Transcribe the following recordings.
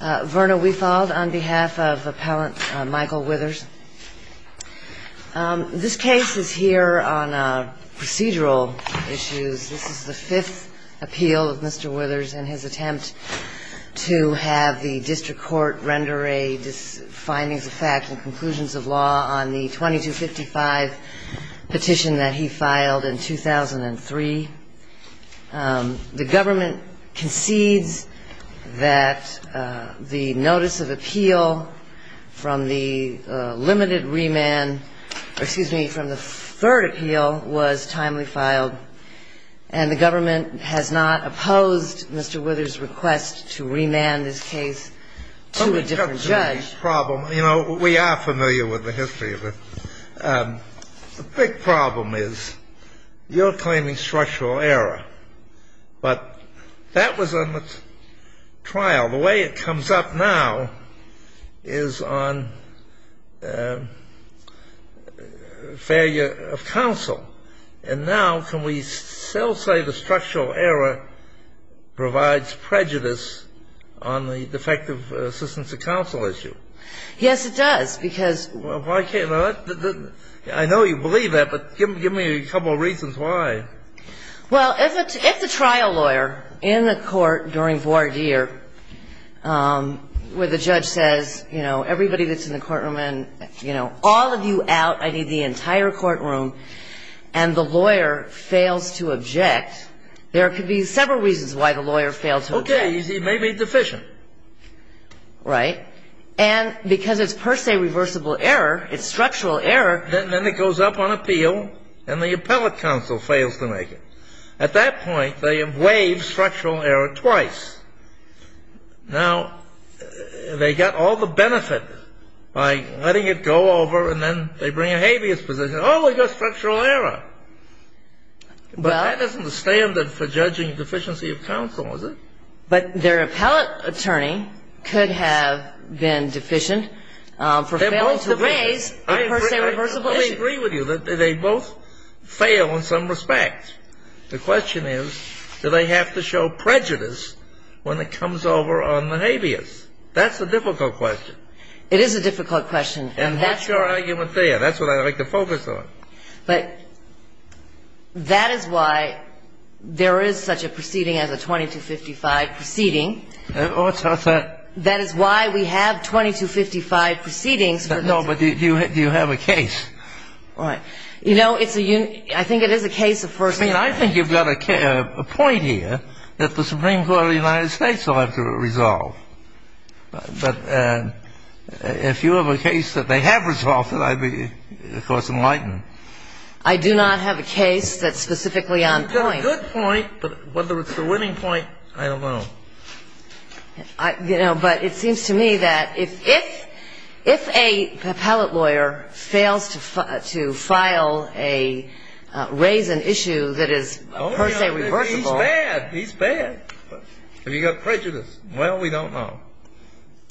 This case is here on procedural issues. This is the fifth appeal of Mr. Withers and his attempt to have the district court render a findings of fact and conclusions of law on the 2255 petition that he filed in 2003. The government concedes that the notice of appeal from the limited remand or, excuse me, from the third appeal was timely filed, and the government has not opposed Mr. Withers' request to remand this case to a different judge. You know, we are familiar with the history of it. The big problem is you're claiming structural error, but that was in the trial. The way it comes up now is on failure of counsel. And now can we still say the structural error provides prejudice on the defective assistance of counsel issue? Yes, it does, because — Well, why can't — I know you believe that, but give me a couple reasons why. Well, if the trial lawyer in the court during voir dire, where the judge says, you know, everybody that's in the courtroom and, you know, all of you out, I need the entire courtroom, and the lawyer fails to object, there could be several reasons why the lawyer failed to object. Okay. He may be deficient. Right. And because it's per se reversible error, it's structural error — And then it goes up on appeal, and the appellate counsel fails to make it. At that point, they have waived structural error twice. Now, they got all the benefit by letting it go over, and then they bring a habeas position. Oh, we've got structural error. But that isn't the standard for judging deficiency of counsel, is it? But their appellate attorney could have been deficient for failing to raise a per se reversible issue. I agree with you that they both fail in some respect. The question is, do they have to show prejudice when it comes over on the habeas? That's a difficult question. It is a difficult question. And that's your argument there. That's what I'd like to focus on. But that is why there is such a proceeding as a 2255 proceeding. What's that? That is why we have 2255 proceedings. No, but do you have a case? You know, it's a — I think it is a case of first — I mean, I think you've got a point here that the Supreme Court of the United States will have to resolve. But if you have a case that they have resolved, then I'd be, of course, enlightened. I do not have a case that's specifically on point. You've got a good point, but whether it's the winning point, I don't know. You know, but it seems to me that if a appellate lawyer fails to file a — raise an issue that is per se reversible — He's bad. He's bad. Have you got prejudice? Well, we don't know.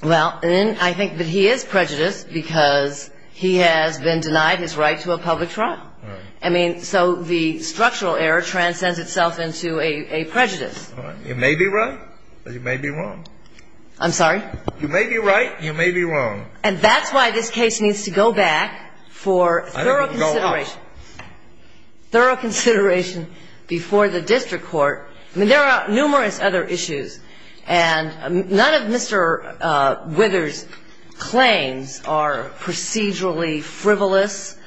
Well, I think that he is prejudiced because he has been denied his right to a public trial. I mean, so the structural error transcends itself into a prejudice. You may be right, but you may be wrong. I'm sorry? You may be right, you may be wrong. And that's why this case needs to go back for thorough consideration. Thorough consideration before the district court. I mean, there are numerous other issues, and none of Mr. Withers' claims are procedurally frivolous.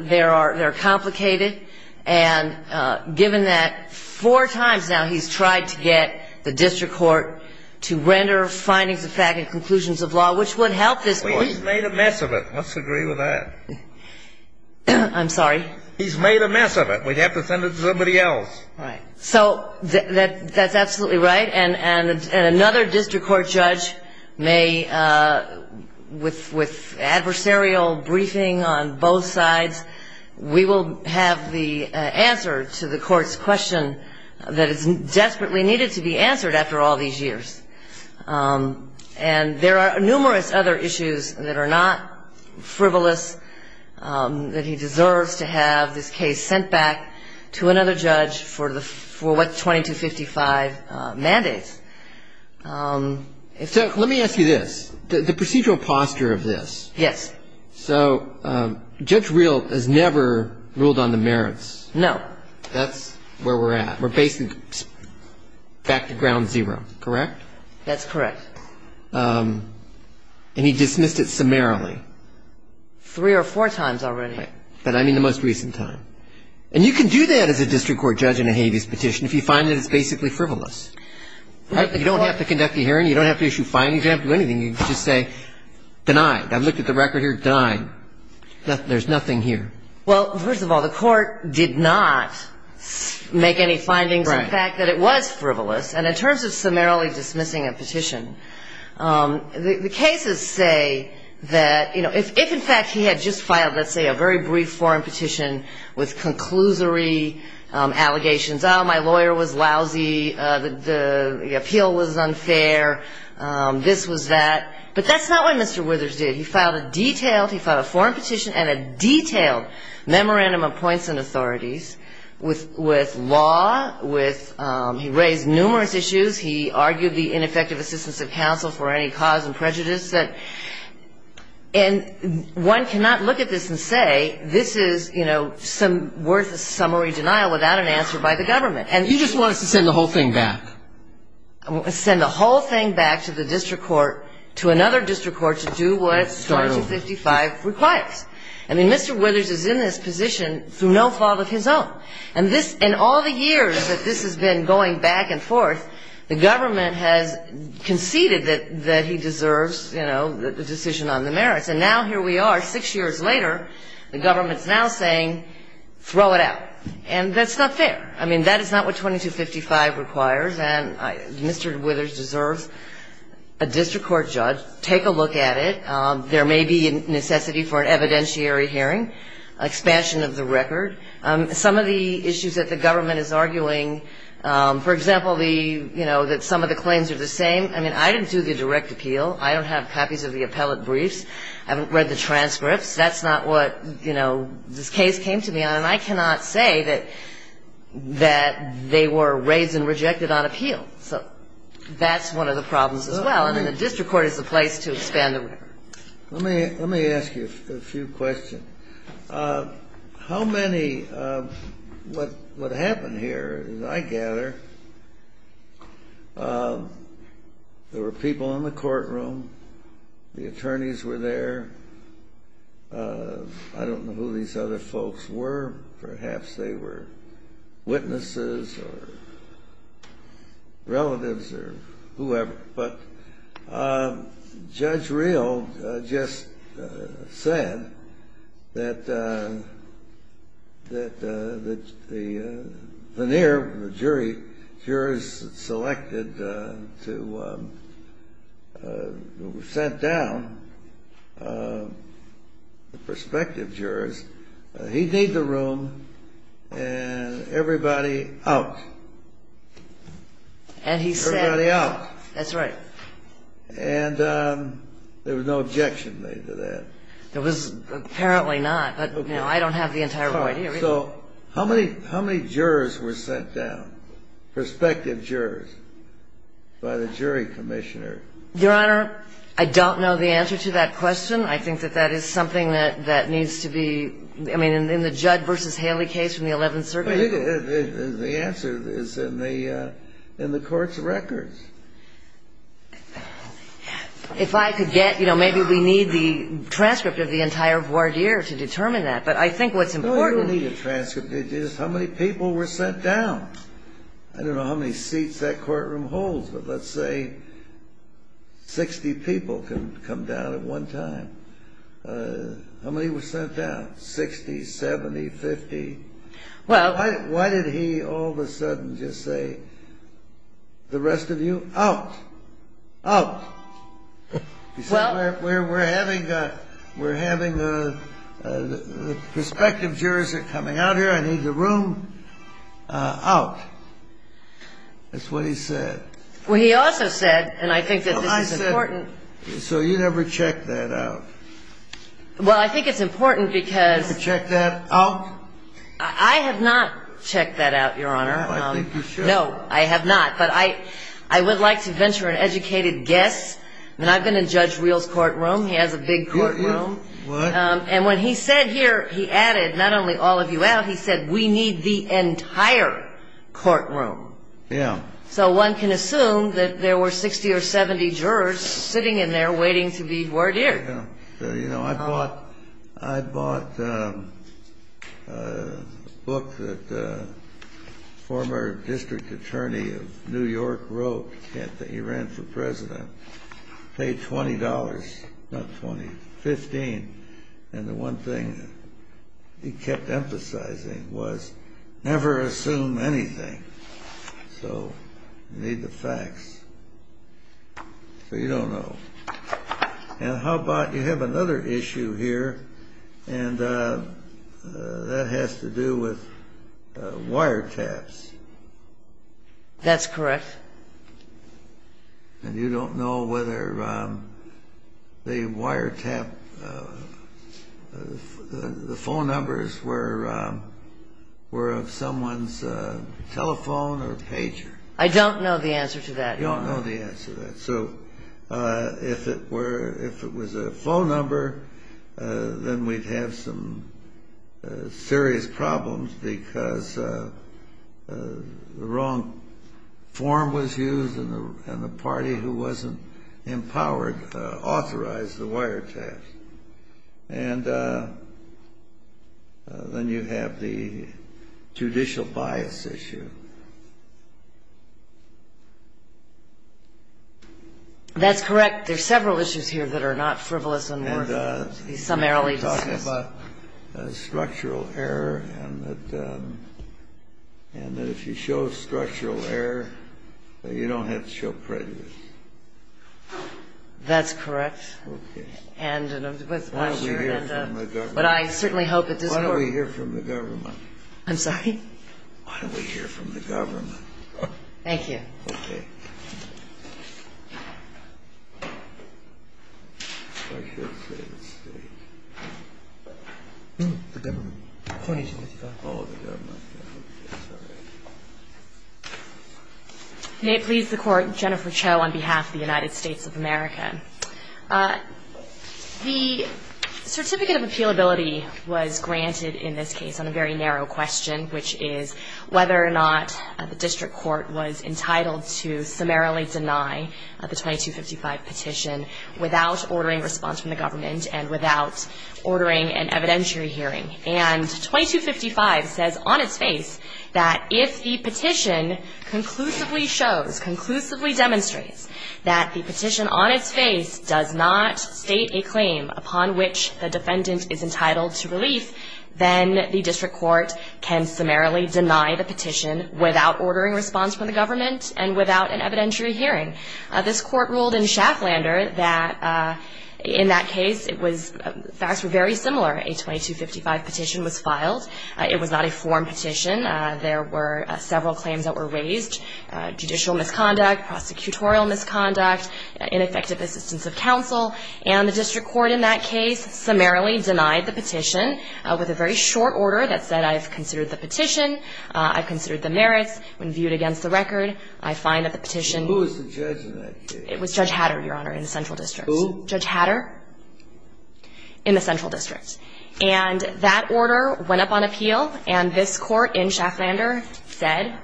They're complicated. And given that four times now he's tried to get the district court to render findings of fact and conclusions of law, which would help this court. Well, he's made a mess of it. Let's agree with that. I'm sorry? He's made a mess of it. We'd have to send it to somebody else. Right. So that's absolutely right. And another district court judge may, with adversarial briefing on both sides, we will have the answer to the court's question that is desperately needed to be answered after all these years. And there are numerous other issues that are not frivolous, that he deserves to have this case sent back to another judge for what, 2255 mandates. So let me ask you this. The procedural posture of this. Yes. So Judge Reel has never ruled on the merits. No. That's where we're at. We're basically back to ground zero, correct? That's correct. And he dismissed it summarily. Three or four times already. But I mean the most recent time. And you can do that as a district court judge in a habeas petition if you find that it's basically frivolous. You don't have to conduct a hearing. You don't have to issue findings. You don't have to do anything. You can just say, denied. I looked at the record here. Denied. There's nothing here. Well, first of all, the court did not make any findings in fact that it was frivolous. And in terms of summarily dismissing a petition, the cases say that, you know, if in fact he had just filed let's say a very brief foreign petition with conclusory allegations, oh, my lawyer was lousy, the appeal was unfair, this was that. But that's not what Mr. Withers did. He filed a detailed, he filed a foreign petition and a detailed memorandum of points and authorities with law, with he raised numerous issues. He argued the ineffective assistance of counsel for any cause and prejudice. And one cannot look at this and say this is, you know, some worth of summary denial without an answer by the government. You just want us to send the whole thing back. Send the whole thing back to the district court, to another district court to do what Star 255 requires. I mean, Mr. Withers is in this position through no fault of his own. And this, in all the years that this has been going back and forth, the government has conceded that he deserves, you know, the decision on the merits. And now here we are, six years later, the government is now saying throw it out. And that's not fair. I mean, that is not what 2255 requires. And Mr. Withers deserves a district court judge, take a look at it. There may be necessity for an evidentiary hearing, expansion of the record. Some of the issues that the government is arguing, for example, the, you know, that some of the claims are the same. I mean, I didn't do the direct appeal. I don't have copies of the appellate briefs. I haven't read the transcripts. That's not what, you know, this case came to be on. And I cannot say that they were raised and rejected on appeal. So that's one of the problems as well. I mean, the district court is the place to expand the record. Let me ask you a few questions. How many, what happened here, I gather, there were people in the courtroom, the attorneys were there. I don't know who these other folks were. Perhaps they were witnesses or relatives or whoever. But Judge Real just said that the near jury, jurors selected to, were sent down, the prospective jurors, he'd need the room and everybody out. And he said. Everybody out. That's right. And there was no objection made to that. There was apparently not. But, you know, I don't have the entire right here. So how many jurors were sent down, prospective jurors, by the jury commissioner? Your Honor, I don't know the answer to that question. I think that that is something that needs to be, I mean, in the Judd versus Haley case from the 11th Circuit. The answer is in the court's records. If I could get, you know, maybe we need the transcript of the entire voir dire to determine that. But I think what's important. You don't need a transcript. It's just how many people were sent down. I don't know how many seats that courtroom holds, but let's say 60 people can come down at one time. How many were sent down? 60, 70, 50? Well. Why did he all of a sudden just say, the rest of you, out. Out. He said, we're having the prospective jurors that are coming out here. I need the room out. That's what he said. Well, he also said, and I think that this is important. So you never checked that out. Well, I think it's important because. I have not checked that out, Your Honor. I think you should. No, I have not. But I would like to venture an educated guess. I mean, I've been in Judge Real's courtroom. He has a big courtroom. And when he said here, he added, not only all of you out, he said, we need the entire courtroom. Yeah. So one can assume that there were 60 or 70 jurors sitting in there waiting to be voir dire. I bought a book that a former district attorney of New York wrote. I can't think. He ran for president. Paid $20, not $20, $15. And the one thing he kept emphasizing was, never assume anything. So you need the facts. So you don't know. And how about you have another issue here, and that has to do with wiretaps. That's correct. And you don't know whether the wiretap, the phone numbers were of someone's telephone or pager. I don't know the answer to that, Your Honor. You don't know the answer to that. So if it was a phone number, then we'd have some serious problems because the wrong form was used and the party who wasn't empowered authorized the wiretaps. And then you have the judicial bias issue. That's correct. There are several issues here that are not frivolous and worthy to be summarily discussed. And you're talking about structural error and that if you show structural error, you don't have to show prejudice. That's correct. Okay. And I'm just wondering. Why don't we hear from the government? I'm sorry? Why don't we hear from the government? Thank you. Okay. I should say the State. The government. Oh, the government. That's all right. May it please the Court, Jennifer Cho on behalf of the United States of America. The certificate of appealability was granted in this case on a very narrow question, which is whether or not the district court was entitled to summarily deny the 2255 petition without ordering response from the government and without ordering an evidentiary hearing. And 2255 says on its face that if the petition conclusively shows, conclusively demonstrates that the petition on its face does not state a claim upon which the defendant is entitled to relief, then the district court can summarily deny the petition without ordering response from the government and without an evidentiary hearing. This Court ruled in Schafflander that in that case it was, the facts were very similar. A 2255 petition was filed. It was not a form petition. There were several claims that were raised. Judicial misconduct, prosecutorial misconduct, ineffective assistance of counsel. And the district court in that case summarily denied the petition with a very short order that said I've considered the petition, I've considered the merits. When viewed against the record, I find that the petition was. Who was the judge in that case? It was Judge Hatter, Your Honor, in the central district. Who? Judge Hatter in the central district. And that order went up on appeal, and this Court in Schafflander said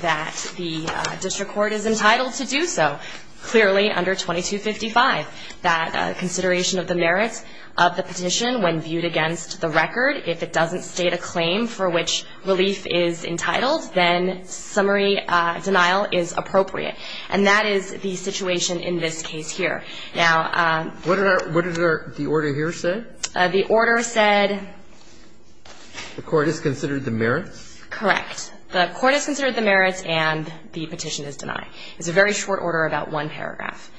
that the district court is entitled to do so. Clearly under 2255, that consideration of the merits of the petition when viewed against the record, if it doesn't state a claim for which relief is entitled, then summary denial is appropriate. And that is the situation in this case here. Now. What did the order here say? The order said. The court has considered the merits? Correct. The court has considered the merits, and the petition is denied. It's a very short order, about one paragraph.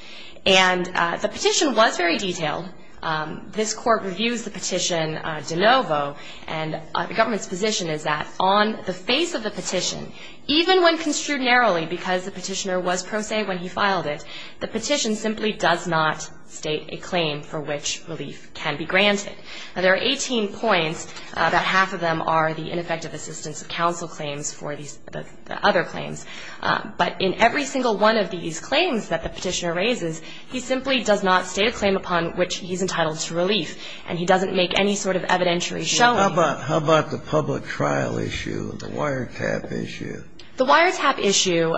And the petition was very detailed. This Court reviews the petition de novo, and the government's position is that on the face of the petition, even when construed narrowly because the petitioner was pro se when he filed it, the petition simply does not state a claim for which relief can be granted. Now, there are 18 points. About half of them are the ineffective assistance of counsel claims for the other claims. But in every single one of these claims that the petitioner raises, he simply does not state a claim upon which he's entitled to relief, and he doesn't make any sort of evidentiary showing. How about the public trial issue, the wiretap issue? The wiretap issue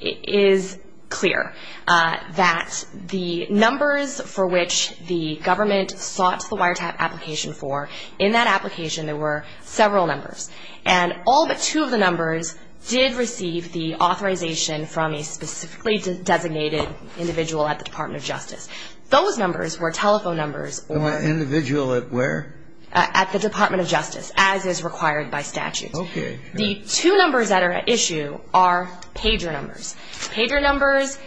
is clear, that the numbers for which the government sought the wiretap application for, in that application there were several numbers. And all but two of the numbers did receive the authorization from a specifically designated individual at the Department of Justice. Those numbers were telephone numbers. Individual at where? At the Department of Justice, as is required by statute. Okay. The two numbers that are at issue are pager numbers. Pager numbers,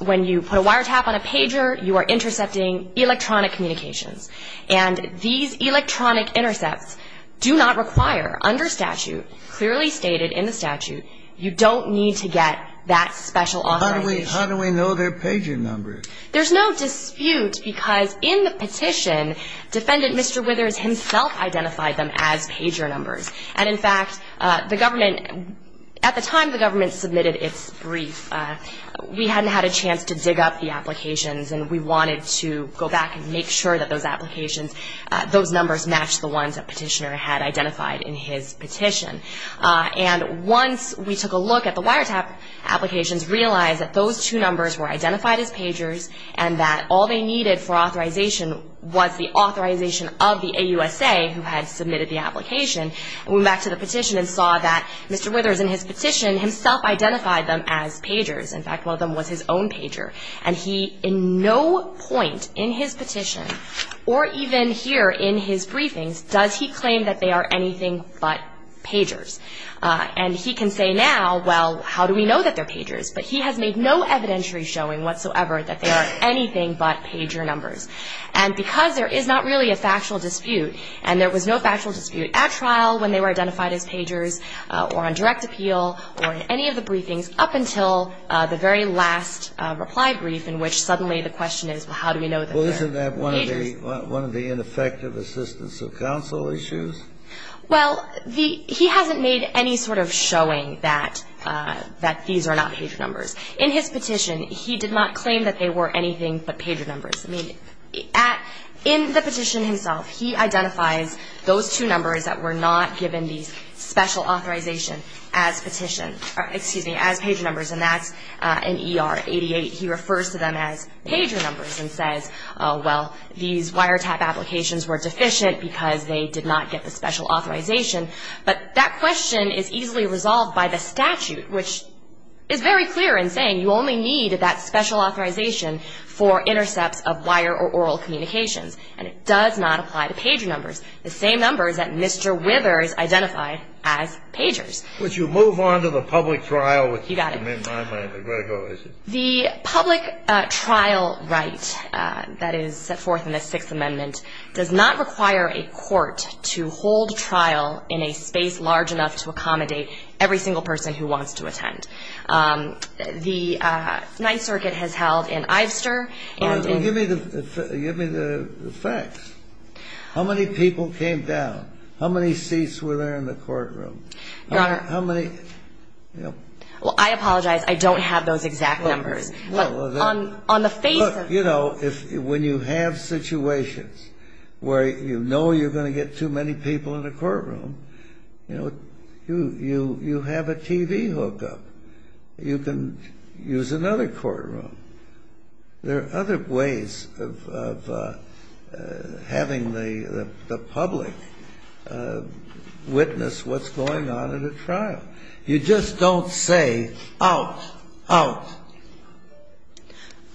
when you put a wiretap on a pager, you are intercepting electronic communications. And these electronic intercepts do not require, under statute, clearly stated in the statute, you don't need to get that special authorization. How do we know they're pager numbers? There's no dispute, because in the petition, Defendant Mr. Withers himself identified them as pager numbers. And, in fact, the government, at the time the government submitted its brief, we hadn't had a chance to dig up the applications, and we wanted to go back and make sure that those applications, those numbers matched the ones that Petitioner had identified in his petition. And once we took a look at the wiretap applications, realized that those two numbers were identified as pagers, and that all they needed for authorization was the authorization of the AUSA who had submitted the application, we went back to the petition and saw that Mr. Withers, in his petition, himself identified them as pagers. In fact, one of them was his own pager. And he, in no point in his petition, or even here in his briefings, does he claim that they are anything but pagers. And he can say now, well, how do we know that they're pagers? But he has made no evidentiary showing whatsoever that they are anything but pager numbers. And because there is not really a factual dispute, and there was no factual dispute at trial when they were identified as pagers or on direct appeal or in any of the briefings up until the very last reply brief in which suddenly the question is, well, how do we know that they're pagers? Well, isn't that one of the ineffective assistance of counsel issues? Well, he hasn't made any sort of showing that these are not pager numbers. In his petition, he did not claim that they were anything but pager numbers. I mean, in the petition himself, he identifies those two numbers that were not given these special authorization as pager numbers, and that's in ER 88, he refers to them as pager numbers and says, well, these wiretap applications were deficient because they did not get the special authorization. But that question is easily resolved by the statute, which is very clear in saying you only need that special authorization for intercepts of wire or oral communications, and it does not apply to pager numbers, the same numbers that Mr. Withers identified as pagers. Would you move on to the public trial? You got it. The public trial right that is set forth in the Sixth Amendment does not require a court to hold trial in a space large enough to accommodate every single person who wants to attend. The Ninth Circuit has held in Ivester and in- Give me the facts. How many people came down? How many seats were there in the courtroom? Your Honor- How many- Well, I apologize. I don't have those exact numbers. On the face of- Look, you know, when you have situations where you know you're going to get too many people in a courtroom, you know, you have a TV hookup. You can use another courtroom. There are other ways of having the public witness what's going on in a trial. You just don't say, out, out.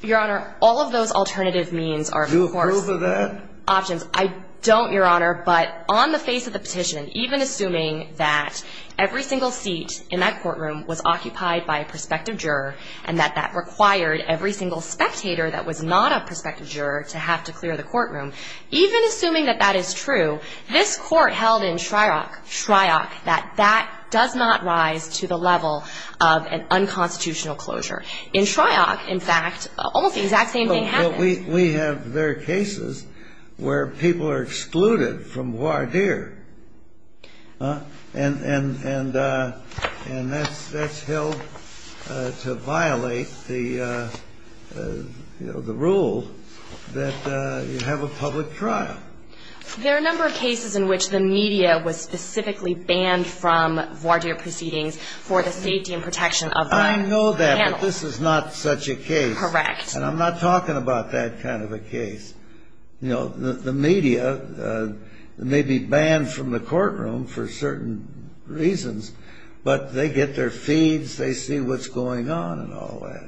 Your Honor, all of those alternative means are, of course- Do you approve of that? Options. I don't, Your Honor, but on the face of the petition, even assuming that every single seat in that courtroom was occupied by a prospective juror and that that required every single spectator that was not a prospective juror to have to clear the courtroom, even assuming that that is true, this Court held in Shryock that that does not rise to the level of an unconstitutional closure. In Shryock, in fact, almost the exact same thing happened. But we have there cases where people are excluded from voir dire, and that's held to violate the rule that you have a public trial. There are a number of cases in which the media was specifically banned from voir dire proceedings for the safety and protection of the panel. I know that, but this is not such a case. Correct. And I'm not talking about that kind of a case. You know, the media may be banned from the courtroom for certain reasons, but they get their feeds, they see what's going on and all that.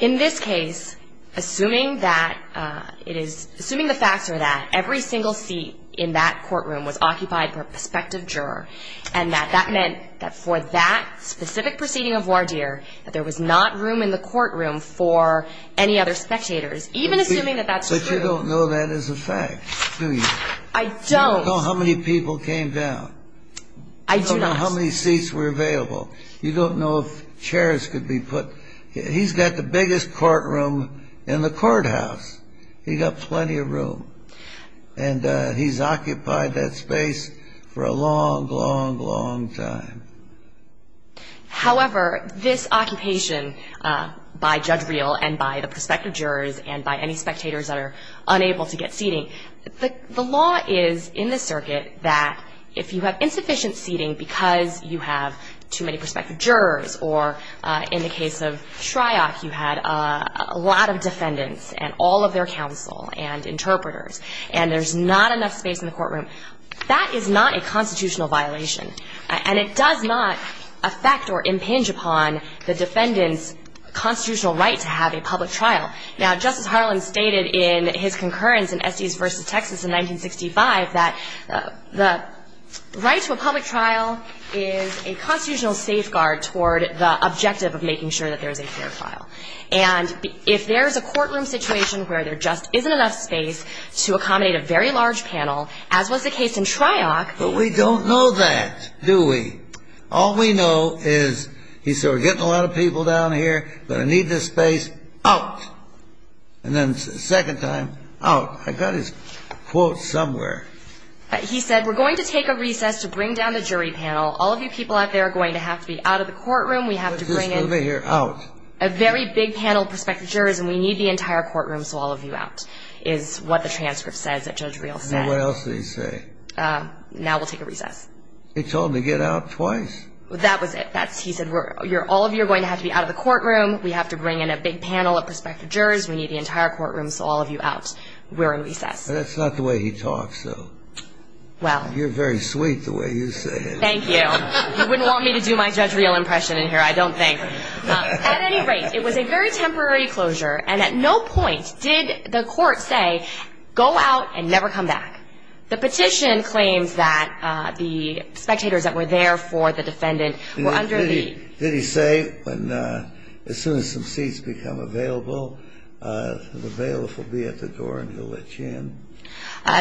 In this case, assuming that it is assuming the facts are that every single seat in that courtroom was occupied by a prospective juror and that that meant that for that specific proceeding of voir dire that there was not room in the courtroom for any other spectators, even assuming that that's true. But you don't know that is a fact, do you? I don't. You don't know how many people came down. I do not. You don't know how many seats were available. You don't know if chairs could be put. He's got the biggest courtroom in the courthouse. He's got plenty of room. And he's occupied that space for a long, long, long time. However, this occupation by Judge Reel and by the prospective jurors and by any spectators that are unable to get seating, the law is in the circuit that if you have insufficient seating because you have too many prospective jurors or in the case of Shryock, you had a lot of defendants and all of their counsel and interpreters, and there's not enough space in the courtroom, that is not a constitutional violation, and it does not affect or impinge upon the defendant's constitutional right to have a public trial. Now, Justice Harlan stated in his concurrence in Estes v. Texas in 1965 that the right to a public trial is a constitutional safeguard toward the objective of making sure that there's a fair trial. And if there's a courtroom situation where there just isn't enough space to accommodate a very large panel, as was the case in Shryock. But we don't know that, do we? All we know is he said, we're getting a lot of people down here, but I need this space out. And then the second time, out. I got his quote somewhere. He said, we're going to take a recess to bring down the jury panel. All of you people out there are going to have to be out of the courtroom. We have to bring a very big panel of prospective jurors, and we need the entire courtroom, so all of you out, is what the transcript says that Judge Reel said. Now we'll take a recess. He told them to get out twice. That was it. He said, all of you are going to have to be out of the courtroom. We have to bring in a big panel of prospective jurors. We need the entire courtroom, so all of you out. We're in recess. That's not the way he talks, though. Well. You're very sweet the way you say it. Thank you. You wouldn't want me to do my Judge Reel impression in here, I don't think. At any rate, it was a very temporary closure, and at no point did the court say, go out and never come back. The petition claims that the spectators that were there for the defendant were under the... Did he say, as soon as some seats become available, the bailiff will be at the door and he'll let you in?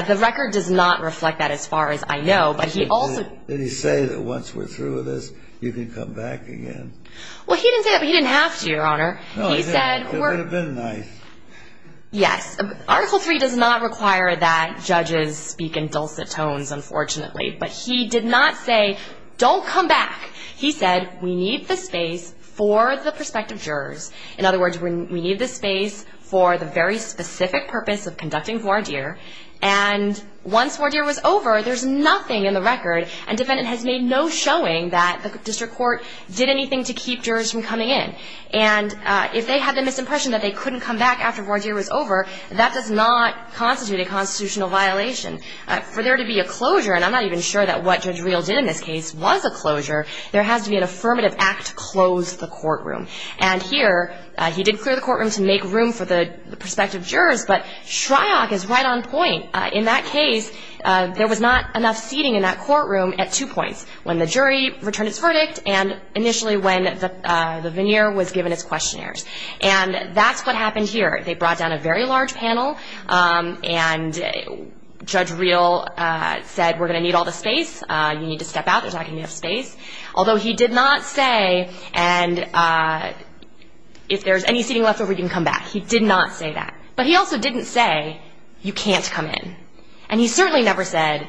The record does not reflect that as far as I know, but he also... Did he say that once we're through with this, you can come back again? Well, he didn't say that, but he didn't have to, Your Honor. He said... It would have been nice. Yes. Article III does not require that judges speak in dulcet tones, unfortunately. But he did not say, don't come back. He said, we need the space for the prospective jurors. In other words, we need the space for the very specific purpose of conducting voir dire. And once voir dire was over, there's nothing in the record, and the defendant has made no showing that the district court did anything to keep jurors from coming in. And if they had the misimpression that they couldn't come back after voir dire was over, that does not constitute a constitutional violation. For there to be a closure, and I'm not even sure that what Judge Reel did in this case was a closure, there has to be an affirmative act to close the courtroom. And here, he did clear the courtroom to make room for the prospective jurors, but Shryock is right on point. In that case, there was not enough seating in that courtroom at two points, when the jury returned its verdict and initially when the veneer was given its questionnaires. And that's what happened here. They brought down a very large panel, and Judge Reel said, we're going to need all the space, you need to step out, there's not going to be enough space. Although he did not say, and if there's any seating left over, you can come back. He did not say that. But he also didn't say, you can't come in. And he certainly never said,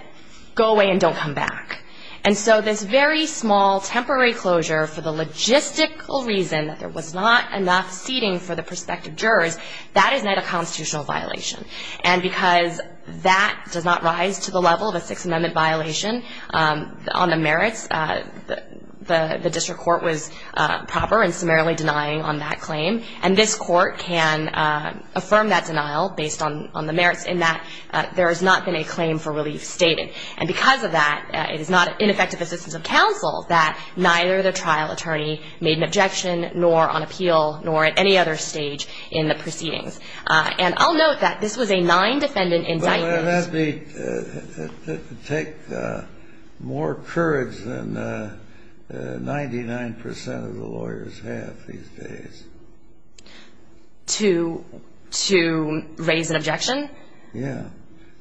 go away and don't come back. And so this very small temporary closure for the logistical reason that there was not enough seating for the prospective jurors, that is not a constitutional violation. And because that does not rise to the level of a Sixth Amendment violation on the merits, the district court was proper and summarily denying on that claim. And this court can affirm that denial based on the merits in that there has not been a claim for relief stated. And because of that, it is not ineffective assistance of counsel that neither the trial attorney made an objection, nor on appeal, nor at any other stage in the proceedings. And I'll note that this was a nine-defendant indictment. It has to take more courage than 99% of the lawyers have these days. To raise an objection? Yeah.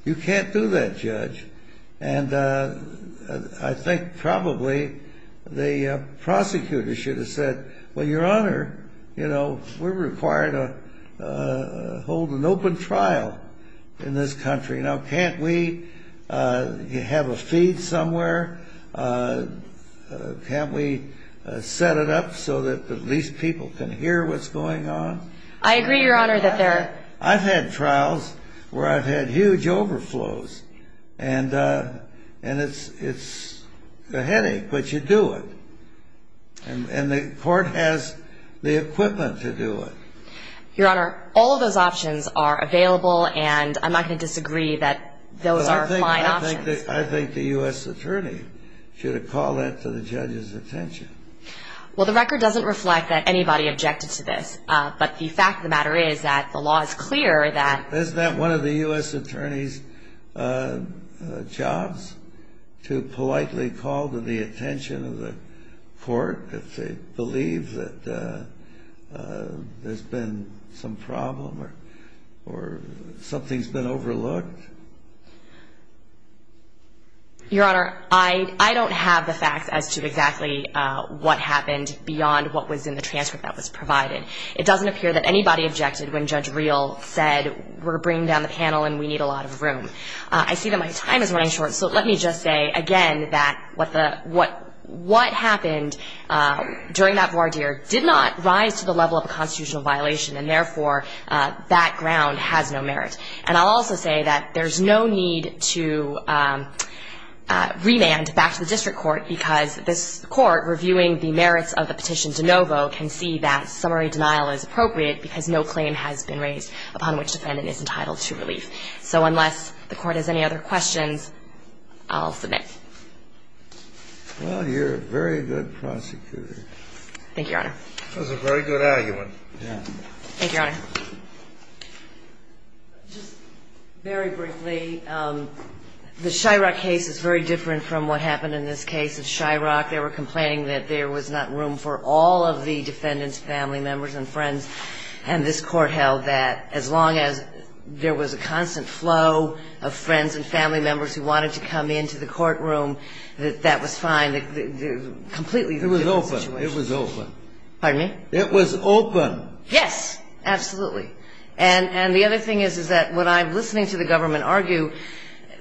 You can't do that, Judge. And I think probably the prosecutor should have said, well, Your Honor, you know, we're required to hold an open trial in this country. Now, can't we have a feed somewhere? Can't we set it up so that at least people can hear what's going on? I agree, Your Honor, that there are. I've had trials where I've had huge overflows, and it's a headache, but you do it. And the court has the equipment to do it. Your Honor, all of those options are available, and I'm not going to disagree that those are fine options. I think the U.S. attorney should have called that to the judge's attention. Well, the record doesn't reflect that anybody objected to this. But the fact of the matter is that the law is clear that... Isn't that one of the U.S. attorney's jobs to politely call to the attention of the court if they believe that there's been some problem or something's been overlooked? Your Honor, I don't have the facts as to exactly what happened beyond what was in the transcript that was provided. It doesn't appear that anybody objected when Judge Reel said, we're bringing down the panel and we need a lot of room. I see that my time is running short, so let me just say again that what happened during that voir dire did not rise to the level of a constitutional violation, and therefore that ground has no merit. And I'll also say that there's no need to remand back to the district court because this Court, reviewing the merits of the petition de novo, can see that summary denial is appropriate because no claim has been raised upon which defendant is entitled to relief. So unless the Court has any other questions, I'll submit. Well, you're a very good prosecutor. Thank you, Your Honor. Thank you, Your Honor. Just very briefly, the Shyrock case is very different from what happened in this case of Shyrock. They were complaining that there was not room for all of the defendants' family members and friends, and this Court held that as long as there was a constant flow of friends and family members who wanted to come into the courtroom, that that was fine. Completely different situation. It was open. Pardon me? It was open. Yes, absolutely. And the other thing is, is that when I'm listening to the government argue,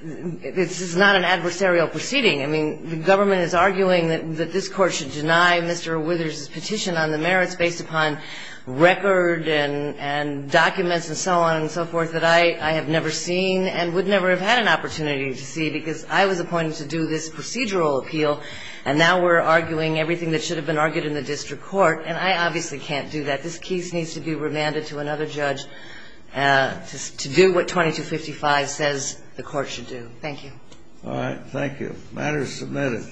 this is not an adversarial proceeding. I mean, the government is arguing that this Court should deny Mr. Withers' petition on the merits based upon record and documents and so on and so forth that I have never seen and would never have had an opportunity to see because I was appointed to do this procedural appeal, and now we're arguing everything that should have been argued in the district court, and I obviously can't do that. This case needs to be remanded to another judge to do what 2255 says the Court should do. Thank you. All right. Thank you. The matter is submitted.